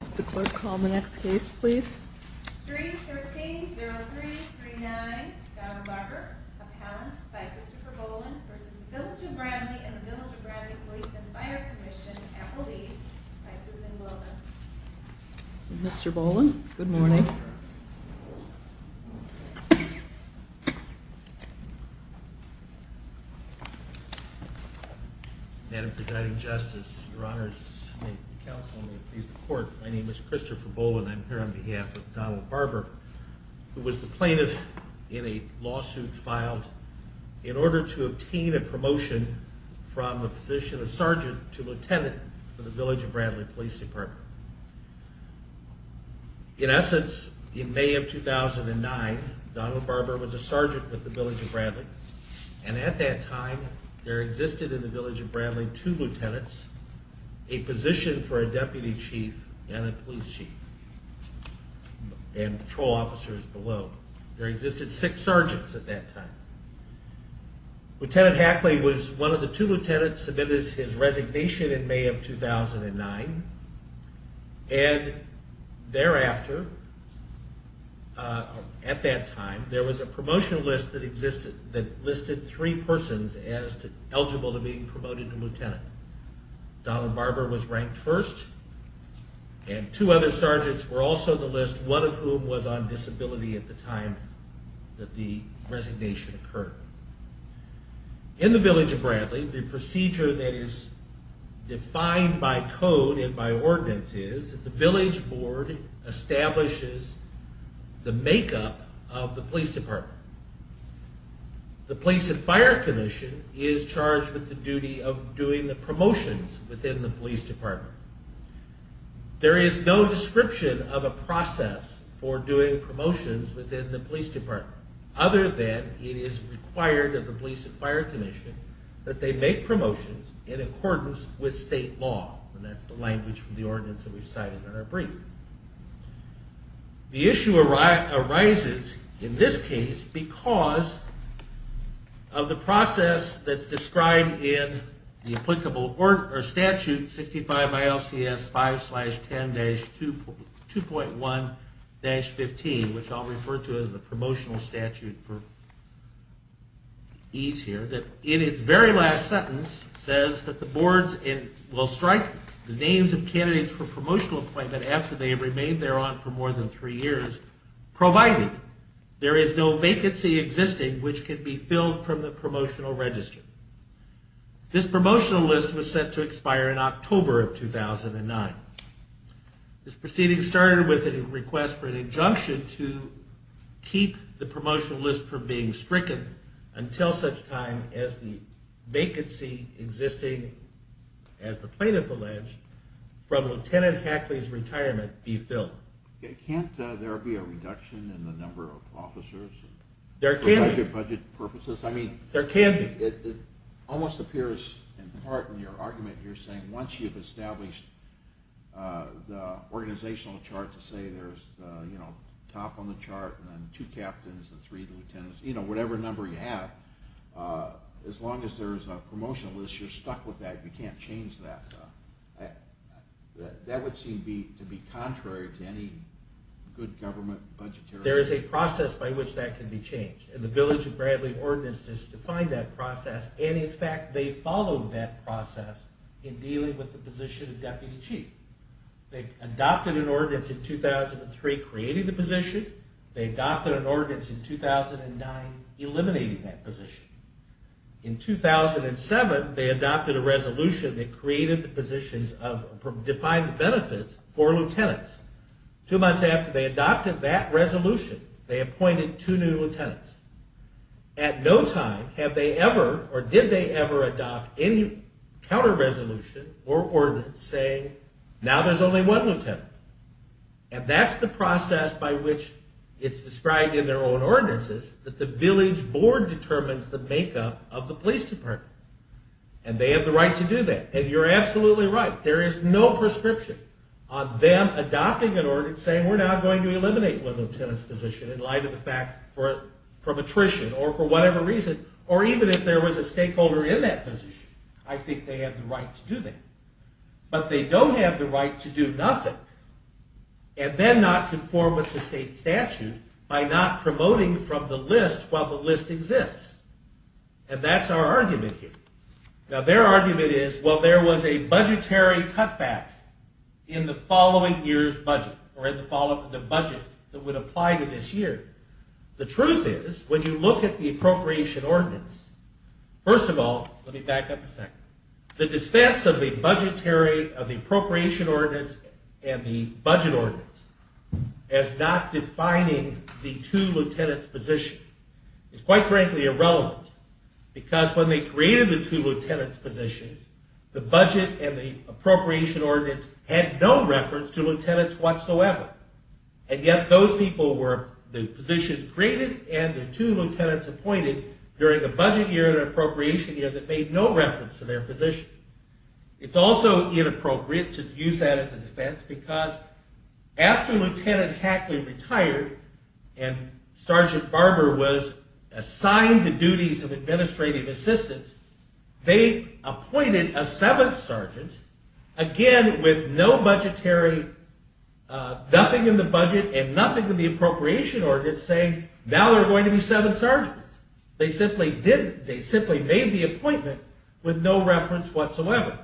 313-0339 Donald Barber, appellant, by Christopher Boland, v. Village of Bradley and the Village of Bradley Police and Fire Commission, Appalachia, by Susan Wilder Mr. Boland, good morning Madam Presiding Justice, your honors, may the counsel please the court. My name is Christopher Boland and I'm here on behalf of Donald Barber, who was the plaintiff in a lawsuit filed in order to obtain a promotion from the position of sergeant to lieutenant for the Village of Bradley Police Department. In essence, in May of 2009, Donald Barber was a sergeant with the Village of Bradley, and at that time there existed in the Village of Bradley two lieutenants, a position for a deputy chief and a police chief, and patrol officers below. There existed six sergeants at that time. Lieutenant Hackley was one of the two lieutenants submitted to his resignation in May of 2009, and thereafter, at that time, there was a promotional list that listed three persons eligible to be promoted to lieutenant. Donald Barber was ranked first, and two other sergeants were also on the list, one of whom was on disability at the time that the resignation occurred. In the Village of Bradley, the procedure that is defined by code and by ordinance is that the village board establishes the makeup of the police department. The police and fire commission is charged with the duty of doing the promotions within the police department. There is no description of a process for doing promotions within the police department, other than it is required of the police and fire commission that they make promotions in accordance with state law, and that's the language from the ordinance that we've cited in our brief. The issue arises, in this case, because of the process that's described in the applicable statute, 65 ILCS 5-10-2.1-15, which I'll refer to as the promotional statute for ease here. The promotional statute, in its very last sentence, says that the boards will strike the names of candidates for promotional appointment after they have remained there on for more than three years, provided there is no vacancy existing which can be filled from the promotional register. This promotional list was set to expire in October of 2009. This proceeding started with a request for an injunction to keep the promotional list from being stricken until such time as the vacancy existing, as the plaintiff alleged, from Lt. Hackley's retirement be filled. Can't there be a reduction in the number of officers for budget purposes? I mean, it almost appears in part in your argument you're saying once you've established the organizational chart to say there's, you know, top on the chart and then two captains and three lieutenants, you know, whatever number you have, as long as there's a promotional list, you're stuck with that, you can't change that. That would seem to be contrary to any good government budgetary... There is a process by which that can be changed, and the Village of Bradley Ordinance has defined that process, and in fact they followed that process in dealing with the position of deputy chief. They adopted an ordinance in 2003 creating the position. They adopted an ordinance in 2009 eliminating that position. In 2007 they adopted a resolution that created the positions of defined benefits for lieutenants. Two months after they adopted that resolution, they appointed two new lieutenants. At no time have they ever or did they ever adopt any counter-resolution or ordinance saying now there's only one lieutenant, and that's the process by which it's described in their own ordinances that the village board determines the makeup of the police department, and they have the right to do that. And you're absolutely right, there is no prescription on them adopting an ordinance saying we're now going to eliminate one lieutenant's position in light of the fact for prematrician or for whatever reason, or even if there was a stakeholder in that position. I think they have the right to do that. But they don't have the right to do nothing and then not conform with the state statute by not promoting from the list while the list exists, and that's our argument here. Now their argument is, well, there was a budgetary cutback in the following year's budget or in the budget that would apply to this year. The truth is, when you look at the appropriation ordinance, first of all, let me back up a second. The defense of the appropriation ordinance and the budget ordinance as not defining the two lieutenants' position is quite frankly irrelevant, because when they created the two lieutenants' positions, the budget and the appropriation ordinance had no reference to lieutenants whatsoever. And yet those people were the positions created and the two lieutenants appointed during the budget year and appropriation year that made no reference to their position. It's also inappropriate to use that as a defense, because after Lieutenant Hackley retired and Sergeant Barber was assigned the duties of administrative assistant, they appointed a seventh sergeant, again with no budgetary, nothing in the budget and nothing in the appropriation ordinance saying, now there are going to be seven sergeants. They simply didn't. They simply made the appointment with no reference whatsoever.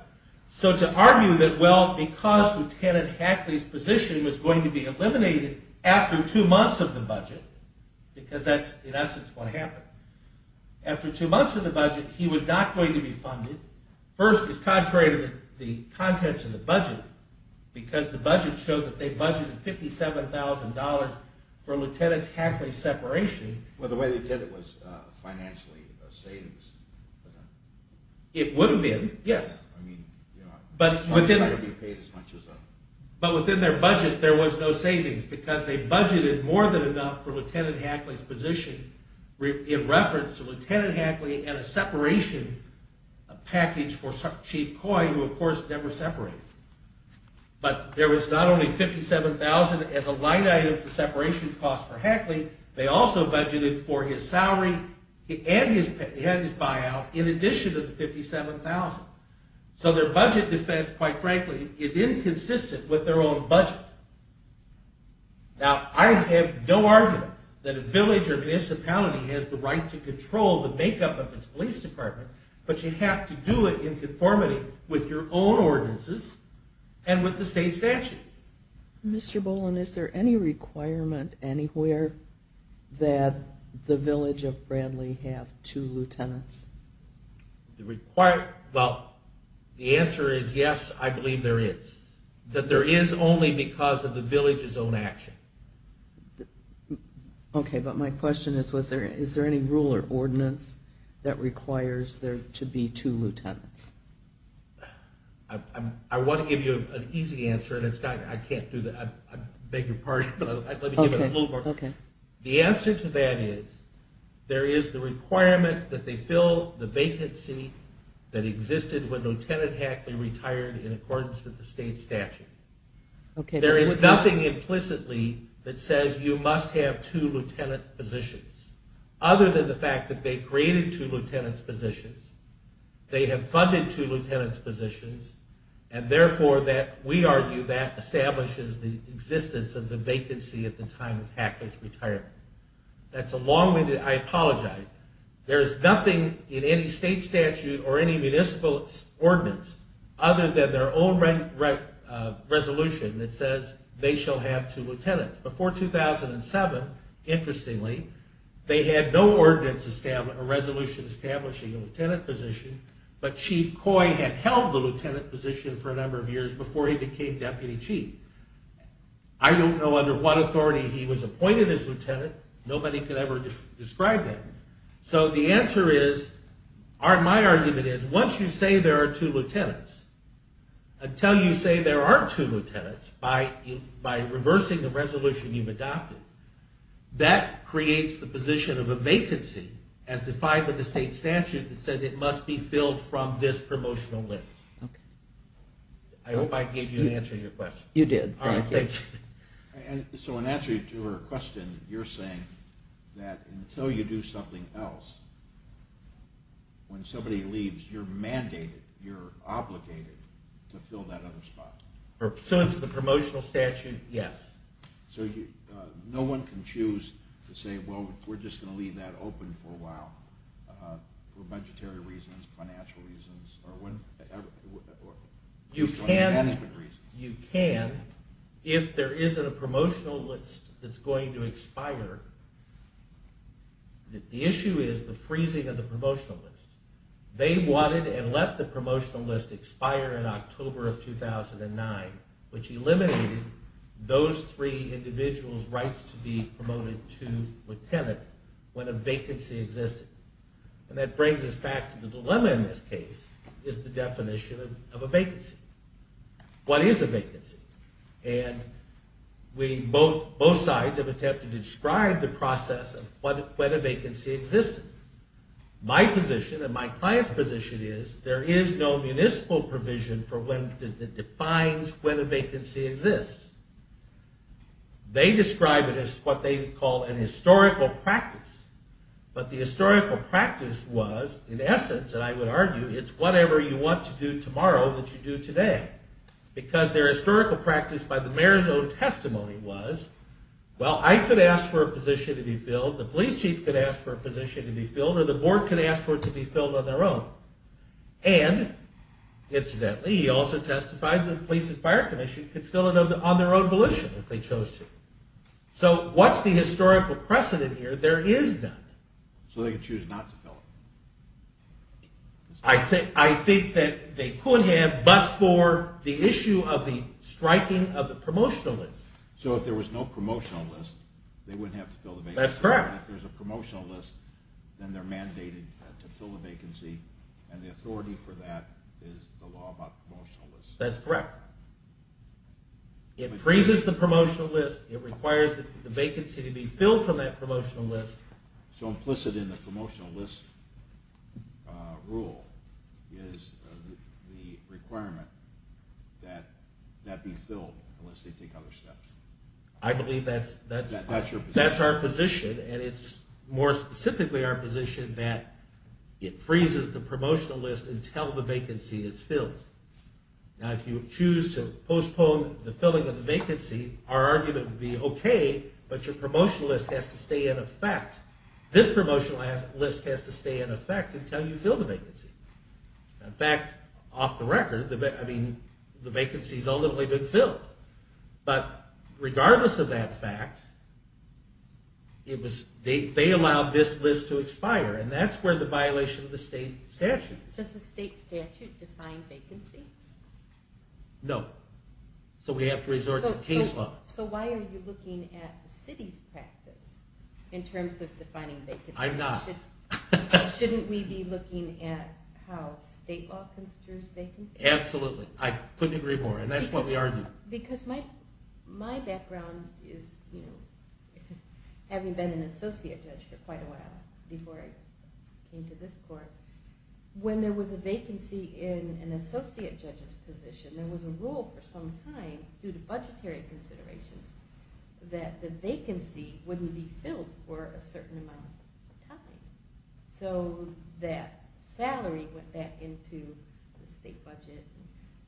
So to argue that, well, because Lieutenant Hackley's position was going to be eliminated after two months of the budget, because that's in essence what happened. After two months of the budget, he was not going to be funded. First, it's contrary to the contents of the budget, because the budget showed that they budgeted $57,000 for Lieutenant Hackley's separation. Well, the way they did it was financially savings. It would have been, yes. But within their budget, there was no savings, because they budgeted more than enough for Lieutenant Hackley's position in reference to Lieutenant Hackley and a separation package for Chief Coy, who of course never separated. But there was not only $57,000 as a line item for separation costs for Hackley, they also budgeted for his salary and his buyout in addition to the $57,000. So their budget defense, quite frankly, is inconsistent with their own budget. Now, I have no argument that a village or municipality has the right to control the makeup of its police department, but you have to do it in conformity with your own ordinances and with the state statute. Mr. Boland, is there any requirement anywhere that the village of Bradley have two lieutenants? Well, the answer is yes, I believe there is. That there is only because of the village's own action. Okay, but my question is, is there any rule or ordinance that requires there to be two lieutenants? I want to give you an easy answer, and I beg your pardon, but let me give you a little more. The answer to that is, there is the requirement that they fill the vacancy that existed when Lieutenant Hackley retired in accordance with the state statute. There is nothing implicitly that says you must have two lieutenant positions, other than the fact that they created two lieutenant positions. They have funded two lieutenant positions, and therefore we argue that establishes the existence of the vacancy at the time of Hackley's retirement. That's a long-winded, I apologize. There's nothing in any state statute or any municipal ordinance other than their own resolution that says they shall have two lieutenants. Before 2007, interestingly, they had no ordinance or resolution establishing a lieutenant position, but Chief Coy had held the lieutenant position for a number of years before he became deputy chief. I don't know under what authority he was appointed as lieutenant. Nobody could ever describe that. So the answer is, my argument is, once you say there are two lieutenants, until you say there are two lieutenants by reversing the resolution you've adopted, that creates the position of a vacancy as defined by the state statute that says it must be filled from this promotional list. I hope I gave you an answer to your question. You did. So in answer to your question, you're saying that until you do something else, when somebody leaves, you're mandated, you're obligated to fill that other spot. So in the promotional statute, yes. So no one can choose to say, well, we're just going to leave that open for a while for budgetary reasons, financial reasons, or management reasons? You can if there isn't a promotional list that's going to expire. The issue is the freezing of the promotional list. They wanted and let the promotional list expire in October of 2009, which eliminated those three individuals' rights to be promoted to lieutenant when a vacancy existed. And that brings us back to the dilemma in this case, is the definition of a vacancy. What is a vacancy? And both sides have attempted to describe the process of when a vacancy existed. My position and my client's position is there is no municipal provision that defines when a vacancy exists. They describe it as what they call an historical practice. But the historical practice was, in essence, and I would argue, it's whatever you want to do tomorrow that you do today. Because their historical practice by the mayor's own testimony was, well, I could ask for a position to be filled, the police chief could ask for a position to be filled, or the board could ask for it to be filled on their own. And, incidentally, he also testified that the police and fire commission could fill it on their own volition if they chose to. So what's the historical precedent here? There is none. So they could choose not to fill it? I think that they could have, but for the issue of the striking of the promotional list. So if there was no promotional list, they wouldn't have to fill the vacancy? That's correct. If there's a promotional list, then they're mandated to fill the vacancy, and the authority for that is the law about promotional lists? That's correct. It freezes the promotional list, it requires the vacancy to be filled from that promotional list. So implicit in the promotional list rule is the requirement that that be filled unless they take other steps? I believe that's our position, and it's more specifically our position that it freezes the promotional list until the vacancy is filled. Now, if you choose to postpone the filling of the vacancy, our argument would be okay, but your promotional list has to stay in effect. This promotional list has to stay in effect until you fill the vacancy. In fact, off the record, the vacancy's ultimately been filled. But regardless of that fact, they allowed this list to expire, and that's where the violation of the state statute is. Does the state statute define vacancy? No. So we have to resort to case law. So why are you looking at the city's practice in terms of defining vacancy? I'm not. Shouldn't we be looking at how state law considers vacancy? Absolutely. I couldn't agree more, and that's why we argue. Because my background is, having been an associate judge for quite a while before I came to this court, when there was a vacancy in an associate judge's position, there was a rule for some time due to budgetary considerations that the vacancy wouldn't be filled for a certain amount of time. So that salary went back into the state budget.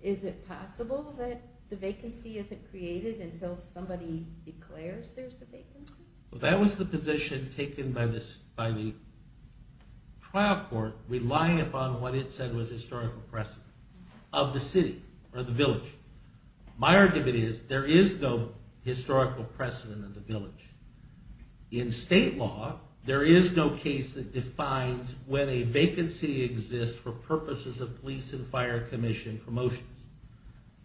Is it possible that the vacancy isn't created until somebody declares there's a vacancy? That was the position taken by the trial court, relying upon what it said was historical precedent of the city or the village. My argument is, there is no historical precedent of the village. In state law, there is no case that defines when a vacancy exists for purposes of police and fire commission promotions.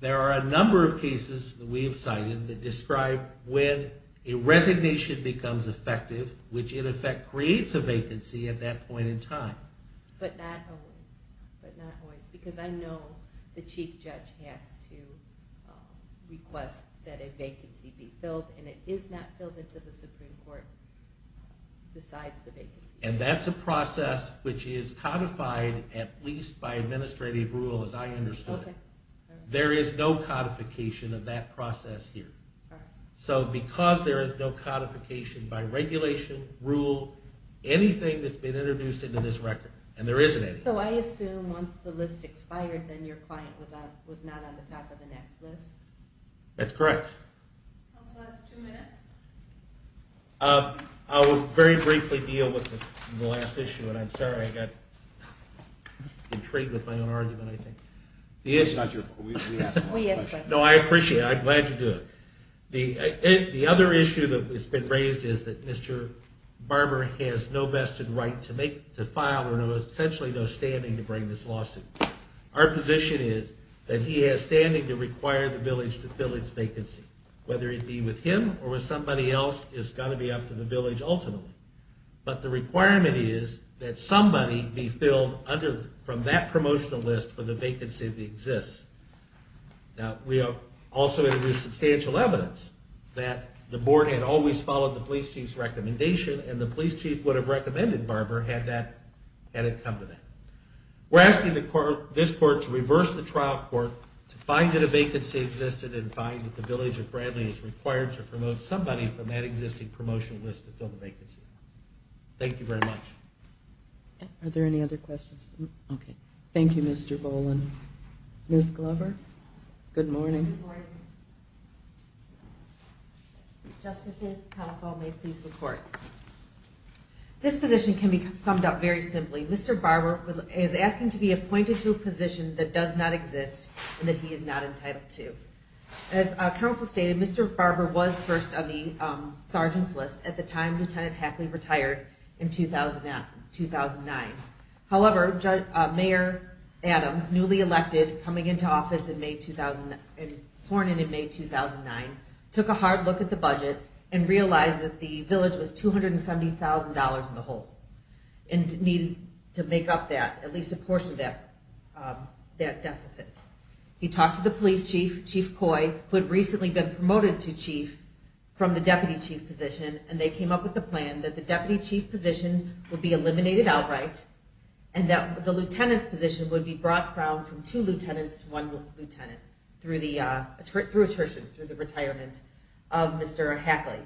There are a number of cases that we have cited that describe when a resignation becomes effective, which in effect creates a vacancy at that point in time. But not always. Because I know the chief judge has to request that a vacancy be filled, and it is not filled until the Supreme Court decides the vacancy. And that's a process which is codified at least by administrative rule, as I understood it. There is no codification of that process here. So because there is no codification by regulation, rule, anything that's been introduced into this record, and there isn't any. So I assume once the list expired, then your client was not on the top of the next list? That's correct. Two minutes. I will very briefly deal with the last issue, and I'm sorry I got intrigued with my own argument, I think. No, I appreciate it. I'm glad you do it. The other issue that has been raised is that Mr. Barber has no vested right to file or essentially no standing to bring this lawsuit. Our position is that he has standing to require the village to fill its vacancy. Whether it be with him or with somebody else is going to be up to the village ultimately. But the requirement is that somebody be filled from that promotional list for the vacancy that exists. Now, we have also introduced substantial evidence that the board had always followed the police chief's recommendation, and the police chief would have recommended Barber had it come to that. We're asking this court to reverse the trial court, to find that a vacancy existed, and find that the village of Bradley is required to promote somebody from that existing promotional list to fill the vacancy. Thank you very much. Are there any other questions? Okay. Thank you, Mr. Boland. Ms. Glover, good morning. Good morning. Justices, counsel, may it please the court. This position can be summed up very simply. Mr. Barber is asking to be appointed to a position that does not exist and that he is not entitled to. As counsel stated, Mr. Barber was first on the sergeant's list at the time Lieutenant Hackley retired in 2009. However, Mayor Adams, newly elected, sworn in in May 2009, took a hard look at the budget and realized that the village was $270,000 in the hole. And needed to make up that, at least a portion of that deficit. He talked to the police chief, Chief Coy, who had recently been promoted to chief from the deputy chief position, and they came up with a plan that the deputy chief position would be eliminated outright and that the lieutenant's position would be brought down from two lieutenants to one lieutenant through attrition, through the retirement of Mr. Hackley.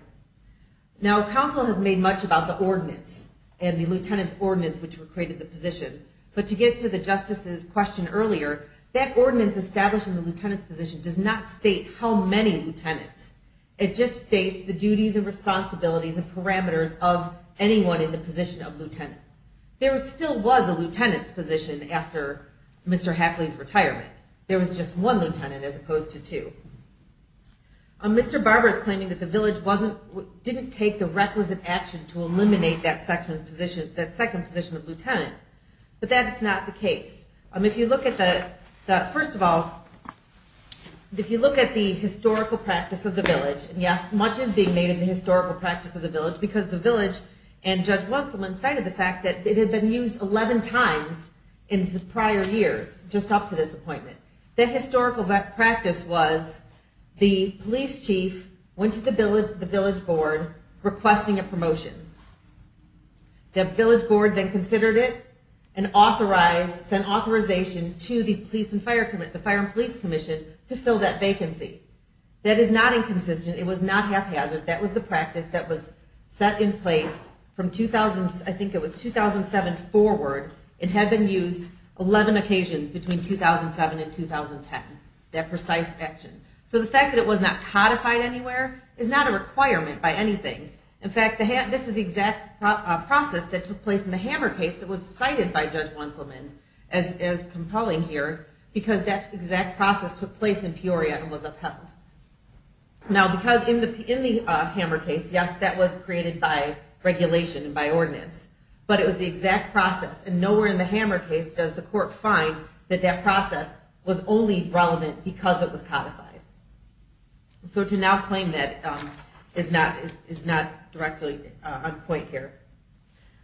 Now, counsel has made much about the ordinance and the lieutenant's ordinance which created the position, but to get to the justice's question earlier, that ordinance establishing the lieutenant's position does not state how many lieutenants. It just states the duties and responsibilities and parameters of anyone in the position of lieutenant. There still was a lieutenant's position after Mr. Hackley's retirement. There was just one lieutenant as opposed to two. Mr. Barber is claiming that the village didn't take the requisite action to eliminate that second position of lieutenant, but that's not the case. If you look at the, first of all, if you look at the historical practice of the village, and yes, much is being made of the historical practice of the village, because the village and Judge Watsonman cited the fact that it had been used 11 times in the prior years, just up to this appointment. The historical practice was the police chief went to the village board requesting a promotion. The village board then considered it and authorized, sent authorization to the police and fire, the fire and police commission to fill that vacancy. That is not inconsistent. It was not haphazard. That was the practice that was set in place from 2000, I think it was 2007 forward. It had been used 11 occasions between 2007 and 2010, that precise action. So the fact that it was not codified anywhere is not a requirement by anything. In fact, this is the exact process that took place in the Hammer case that was cited by Judge Watsonman as compelling here, because that exact process took place in Peoria and was upheld. Now, because in the Hammer case, yes, that was created by regulation and by ordinance, but it was the exact process. And nowhere in the Hammer case does the court find that that process was only relevant because it was codified. So to now claim that is not directly on point here.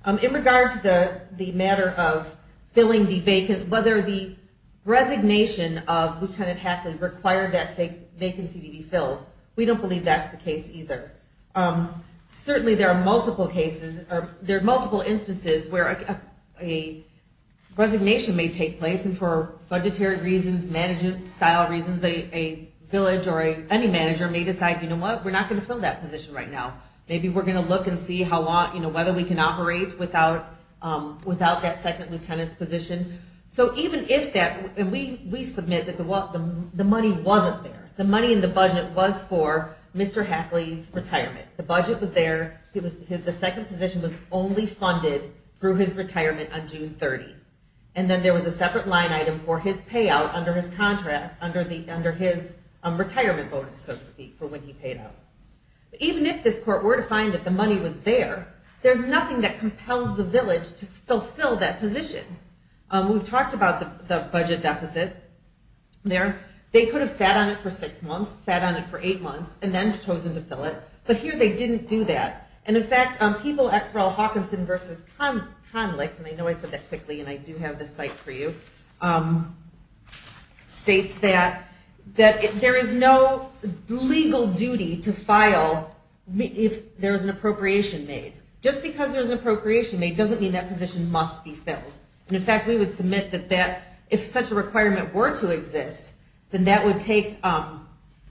In regard to the matter of whether the resignation of Lieutenant Hackley required that vacancy to be filled, we don't believe that's the case either. Certainly there are multiple instances where a resignation may take place, and for budgetary reasons, management-style reasons, a village or any manager may decide, you know what, we're not going to fill that position right now. Maybe we're going to look and see whether we can operate without that second lieutenant's position. So even if that, and we submit that the money wasn't there. The money in the budget was for Mr. Hackley's retirement. The budget was there. The second position was only funded through his retirement on June 30. And then there was a separate line item for his payout under his contract, under his retirement bonus, so to speak, for when he paid out. Even if this court were to find that the money was there, there's nothing that compels the village to fulfill that position. We've talked about the budget deficit there. They could have sat on it for six months, sat on it for eight months, and then chosen to fill it. But here they didn't do that. And, in fact, people, XREL Hawkinson versus Conlix, and I know I said that quickly and I do have the site for you, states that there is no legal duty to file if there is an appropriation made. Just because there's an appropriation made doesn't mean that position must be filled. And, in fact, we would submit that if such a requirement were to exist, then that would take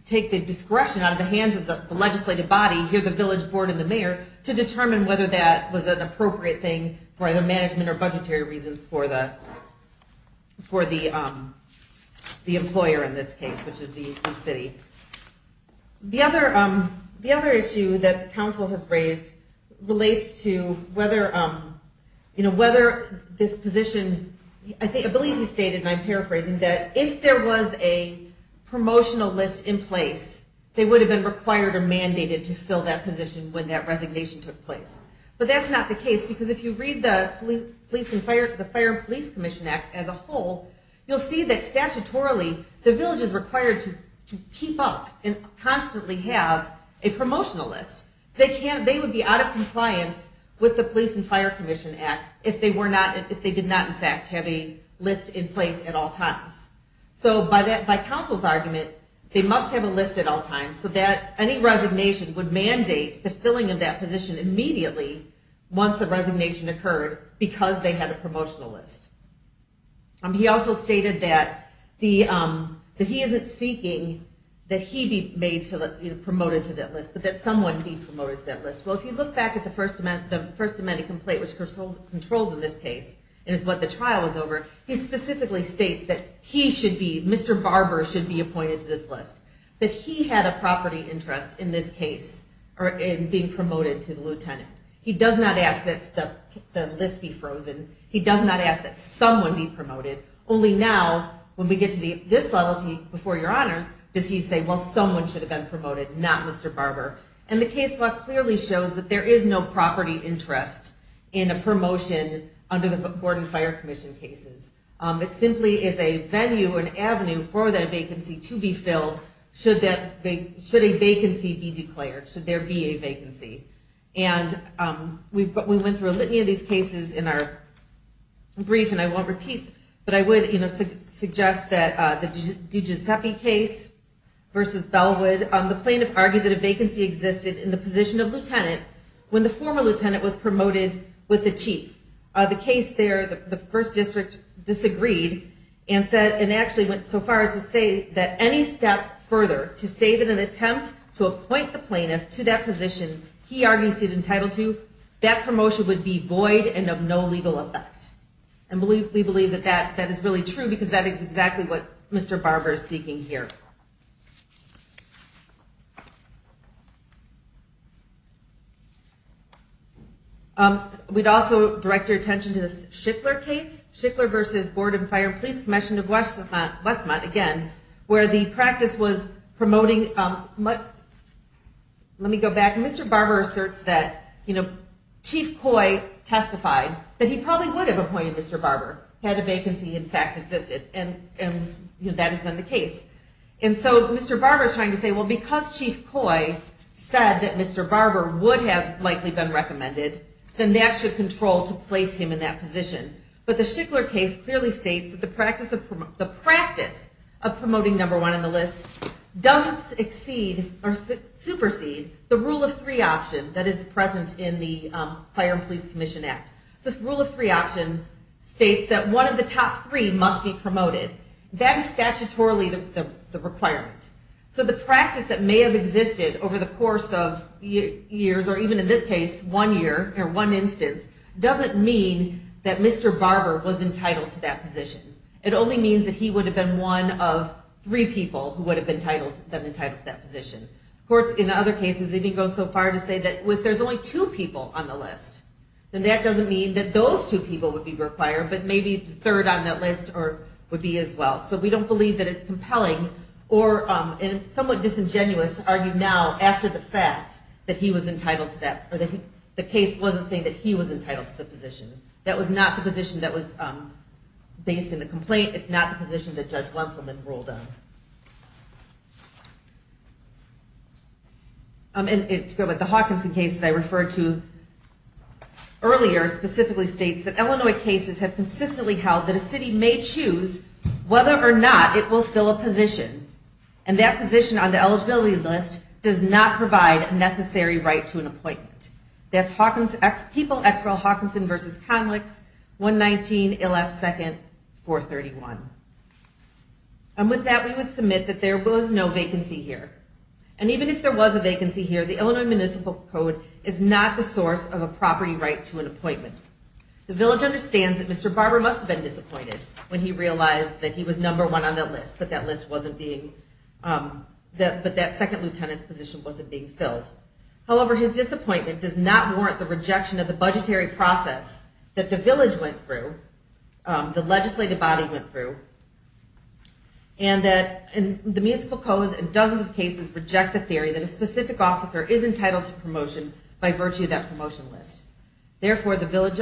the discretion out of the hands of the legislative body, here the village board and the mayor, to determine whether that was an appropriate thing for either management or budgetary reasons for the employer in this case, which is the city. The other issue that the council has raised relates to whether this position, I believe he stated, and I'm paraphrasing, that if there was a promotional list in place, they would have been required or mandated to fill that position when that resignation took place. But that's not the case, because if you read the Fire and Police Commission Act as a whole, you'll see that statutorily the village is required to keep up and constantly have a promotional list. They would be out of compliance with the Police and Fire Commission Act if they did not, in fact, have a list in place at all times. So by council's argument, they must have a list at all times so that any resignation would mandate the filling of that position immediately once the resignation occurred because they had a promotional list. He also stated that he isn't seeking that he be promoted to that list, but that someone be promoted to that list. Well, if you look back at the First Amendment complaint, which controls in this case and is what the trial was over, he specifically states that he should be, Mr. Barber should be appointed to this list, that he had a property interest in this case in being promoted to lieutenant. He does not ask that the list be frozen. He does not ask that someone be promoted. Only now, when we get to this level, before your honors, does he say, well, someone should have been promoted, not Mr. Barber. And the case law clearly shows that there is no property interest in a promotion under the Board and Fire Commission cases. It simply is a venue, an avenue for that vacancy to be filled should a vacancy be declared, should there be a vacancy. And we went through a litany of these cases in our brief, and I won't repeat, but I would suggest that the DiGiuseppe case versus Bellwood, the plaintiff argued that a vacancy existed in the position of lieutenant when the former lieutenant was promoted with the chief. The case there, the first district disagreed and said, and actually went so far as to say that any step further to state an attempt to appoint the plaintiff to that position he argues he's entitled to, that promotion would be void and of no legal effect. And we believe that that is really true, because that is exactly what Mr. Barber is seeking here. We'd also direct your attention to the Schickler case, Schickler versus Board and Fire Police Commission, again, where the practice was promoting... Let me go back. Mr. Barber asserts that Chief Coy testified that he probably would have appointed Mr. Barber, had a vacancy in fact existed, and that has been the case. And so Mr. Barber is trying to say, well, because Chief Coy said that Mr. Barber would have likely been recommended, then that should control to place him in that position. But the Schickler case clearly states that the practice of promoting number one on the list doesn't supersede the rule of three option that is present in the Fire and Police Commission Act. The rule of three option states that one of the top three must be promoted. That is statutorily the requirement. So the practice that may have existed over the course of years, or even in this case, one year or one instance, doesn't mean that Mr. Barber was entitled to that position. It only means that he would have been one of three people who would have been entitled to that position. Of course, in other cases, they can go so far as to say that if there's only two people on the list, then that doesn't mean that those two people would be required, but maybe a third on that list would be as well. So we don't believe that it's compelling or somewhat disingenuous to argue now after the fact that he was entitled to that, or the case wasn't saying that he was entitled to the position. That was not the position that was based in the complaint. It's not the position that Judge Wenselman ruled on. And to go with the Hawkinson case that I referred to earlier specifically states that Illinois cases have consistently held And that position on the eligibility list does not provide a necessary right to an appointment. That's People X. Rel. Hawkinson v. Conlix, 119 Ill. F. 2nd, 431. And with that, we would submit that there was no vacancy here. And even if there was a vacancy here, the Illinois Municipal Code is not the source of a property right to an appointment. The village understands that Mr. Barber must have been disappointed when he realized that he was number one on that list, but that second lieutenant's position wasn't being filled. However, his disappointment does not warrant the rejection of the budgetary process that the village went through, the legislative body went through, and that the Municipal Code in dozens of cases reject the theory that a specific officer is entitled to promotion by virtue of that promotion list. Therefore, the village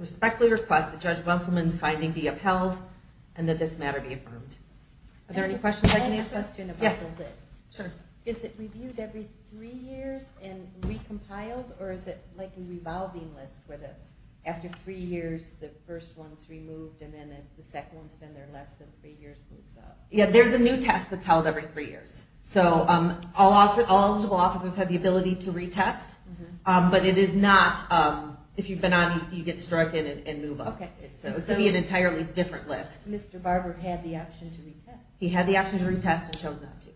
respectfully requests that Judge Wenselman's finding be upheld and that this matter be affirmed. Are there any questions I can answer? I have a question about the list. Sure. Is it reviewed every three years and recompiled, or is it like a revolving list where after three years the first one's removed and then the second one's been there less than three years moves up? Yeah, there's a new test that's held every three years. So all eligible officers have the ability to retest, but it is not if you've been on, you get struck and move up. Okay. So it could be an entirely different list. Mr. Barber had the option to retest. He had the option to retest and chose not to.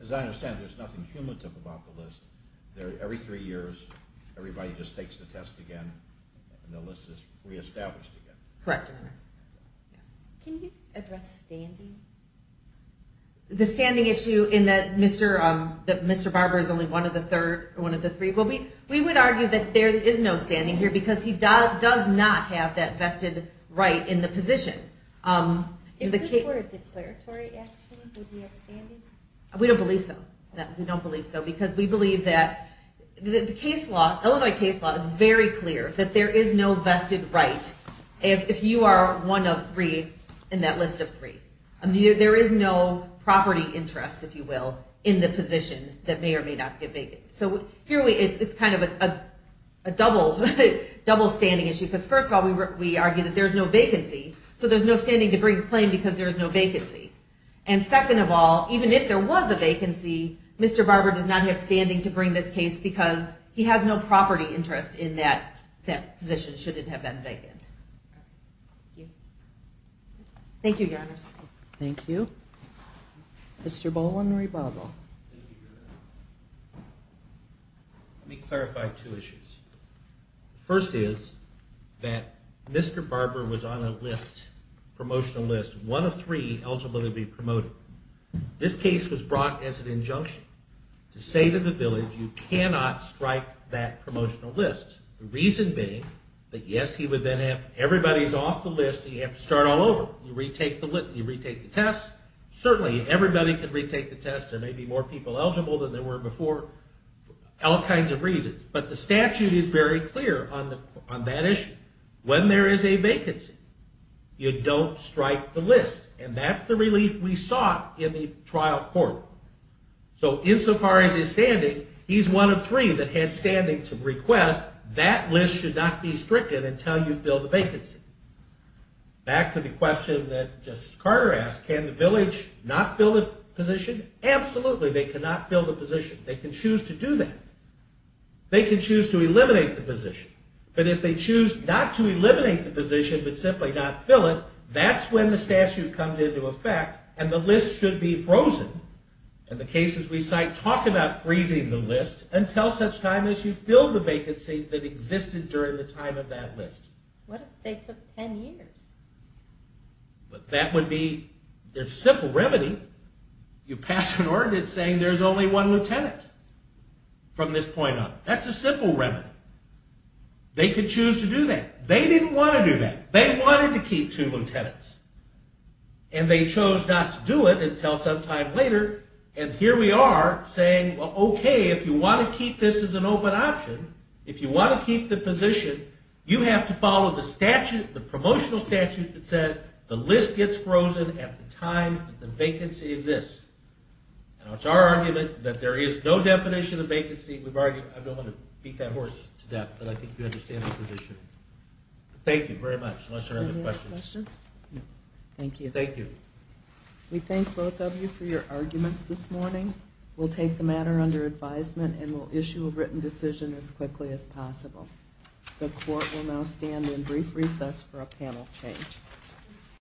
As I understand, there's nothing cumulative about the list. Every three years, everybody just takes the test again, and the list is reestablished again. Correct. Can you address standing? The standing issue in that Mr. Barber is only one of the three. We would argue that there is no standing here because he does not have that vested right in the position. If this were a declaratory action, would he have standing? We don't believe so. We don't believe so because we believe that the Illinois case law is very clear that there is no vested right if you are one of three in that list of three. There is no property interest, if you will, in the position that may or may not get vetted. So here it's kind of a double standing issue because first of all, we argue that there's no vacancy, so there's no standing to bring the claim because there's no vacancy. And second of all, even if there was a vacancy, Mr. Barber does not have standing to bring this case because he has no property interest in that position, should it have been vacant. Thank you, Your Honors. Thank you. Mr. Bowlen, rebuttal. Let me clarify two issues. First is that Mr. Barber was on a list, promotional list, one of three eligible to be promoted. This case was brought as an injunction to say to the village, you cannot strike that promotional list. The reason being that yes, he would then have everybody's off the list and you have to start all over. You retake the test. Certainly everybody can retake the test. There may be more people eligible than there were before, all kinds of reasons. But the statute is very clear on that issue. When there is a vacancy, you don't strike the list, and that's the relief we sought in the trial court. So insofar as his standing, he's one of three that had standing to request that list should not be stricken until you fill the vacancy. Back to the question that Justice Carter asked, can the village not fill the position? Absolutely they cannot fill the position. They can choose to do that. They can choose to eliminate the position. But if they choose not to eliminate the position but simply not fill it, that's when the statute comes into effect and the list should be frozen. And the cases we cite talk about freezing the list until such time as you fill the vacancy that existed during the time of that list. What if they took 10 years? That would be a simple remedy. You pass an ordinance saying there's only one lieutenant from this point on. That's a simple remedy. They could choose to do that. They didn't want to do that. They wanted to keep two lieutenants, and they chose not to do it until some time later. And here we are saying, well, okay, if you want to keep this as an open option, if you want to keep the position, you have to follow the statute, the promotional statute that says the list gets frozen at the time that the vacancy exists. And it's our argument that there is no definition of vacancy. I don't want to beat that horse to death, but I think you understand the position. Thank you very much. Unless there are other questions. Thank you. Thank you. We thank both of you for your arguments this morning. We'll take the matter under advisement and we'll issue a written decision as quickly as possible. The court will now stand in brief recess for a panel change.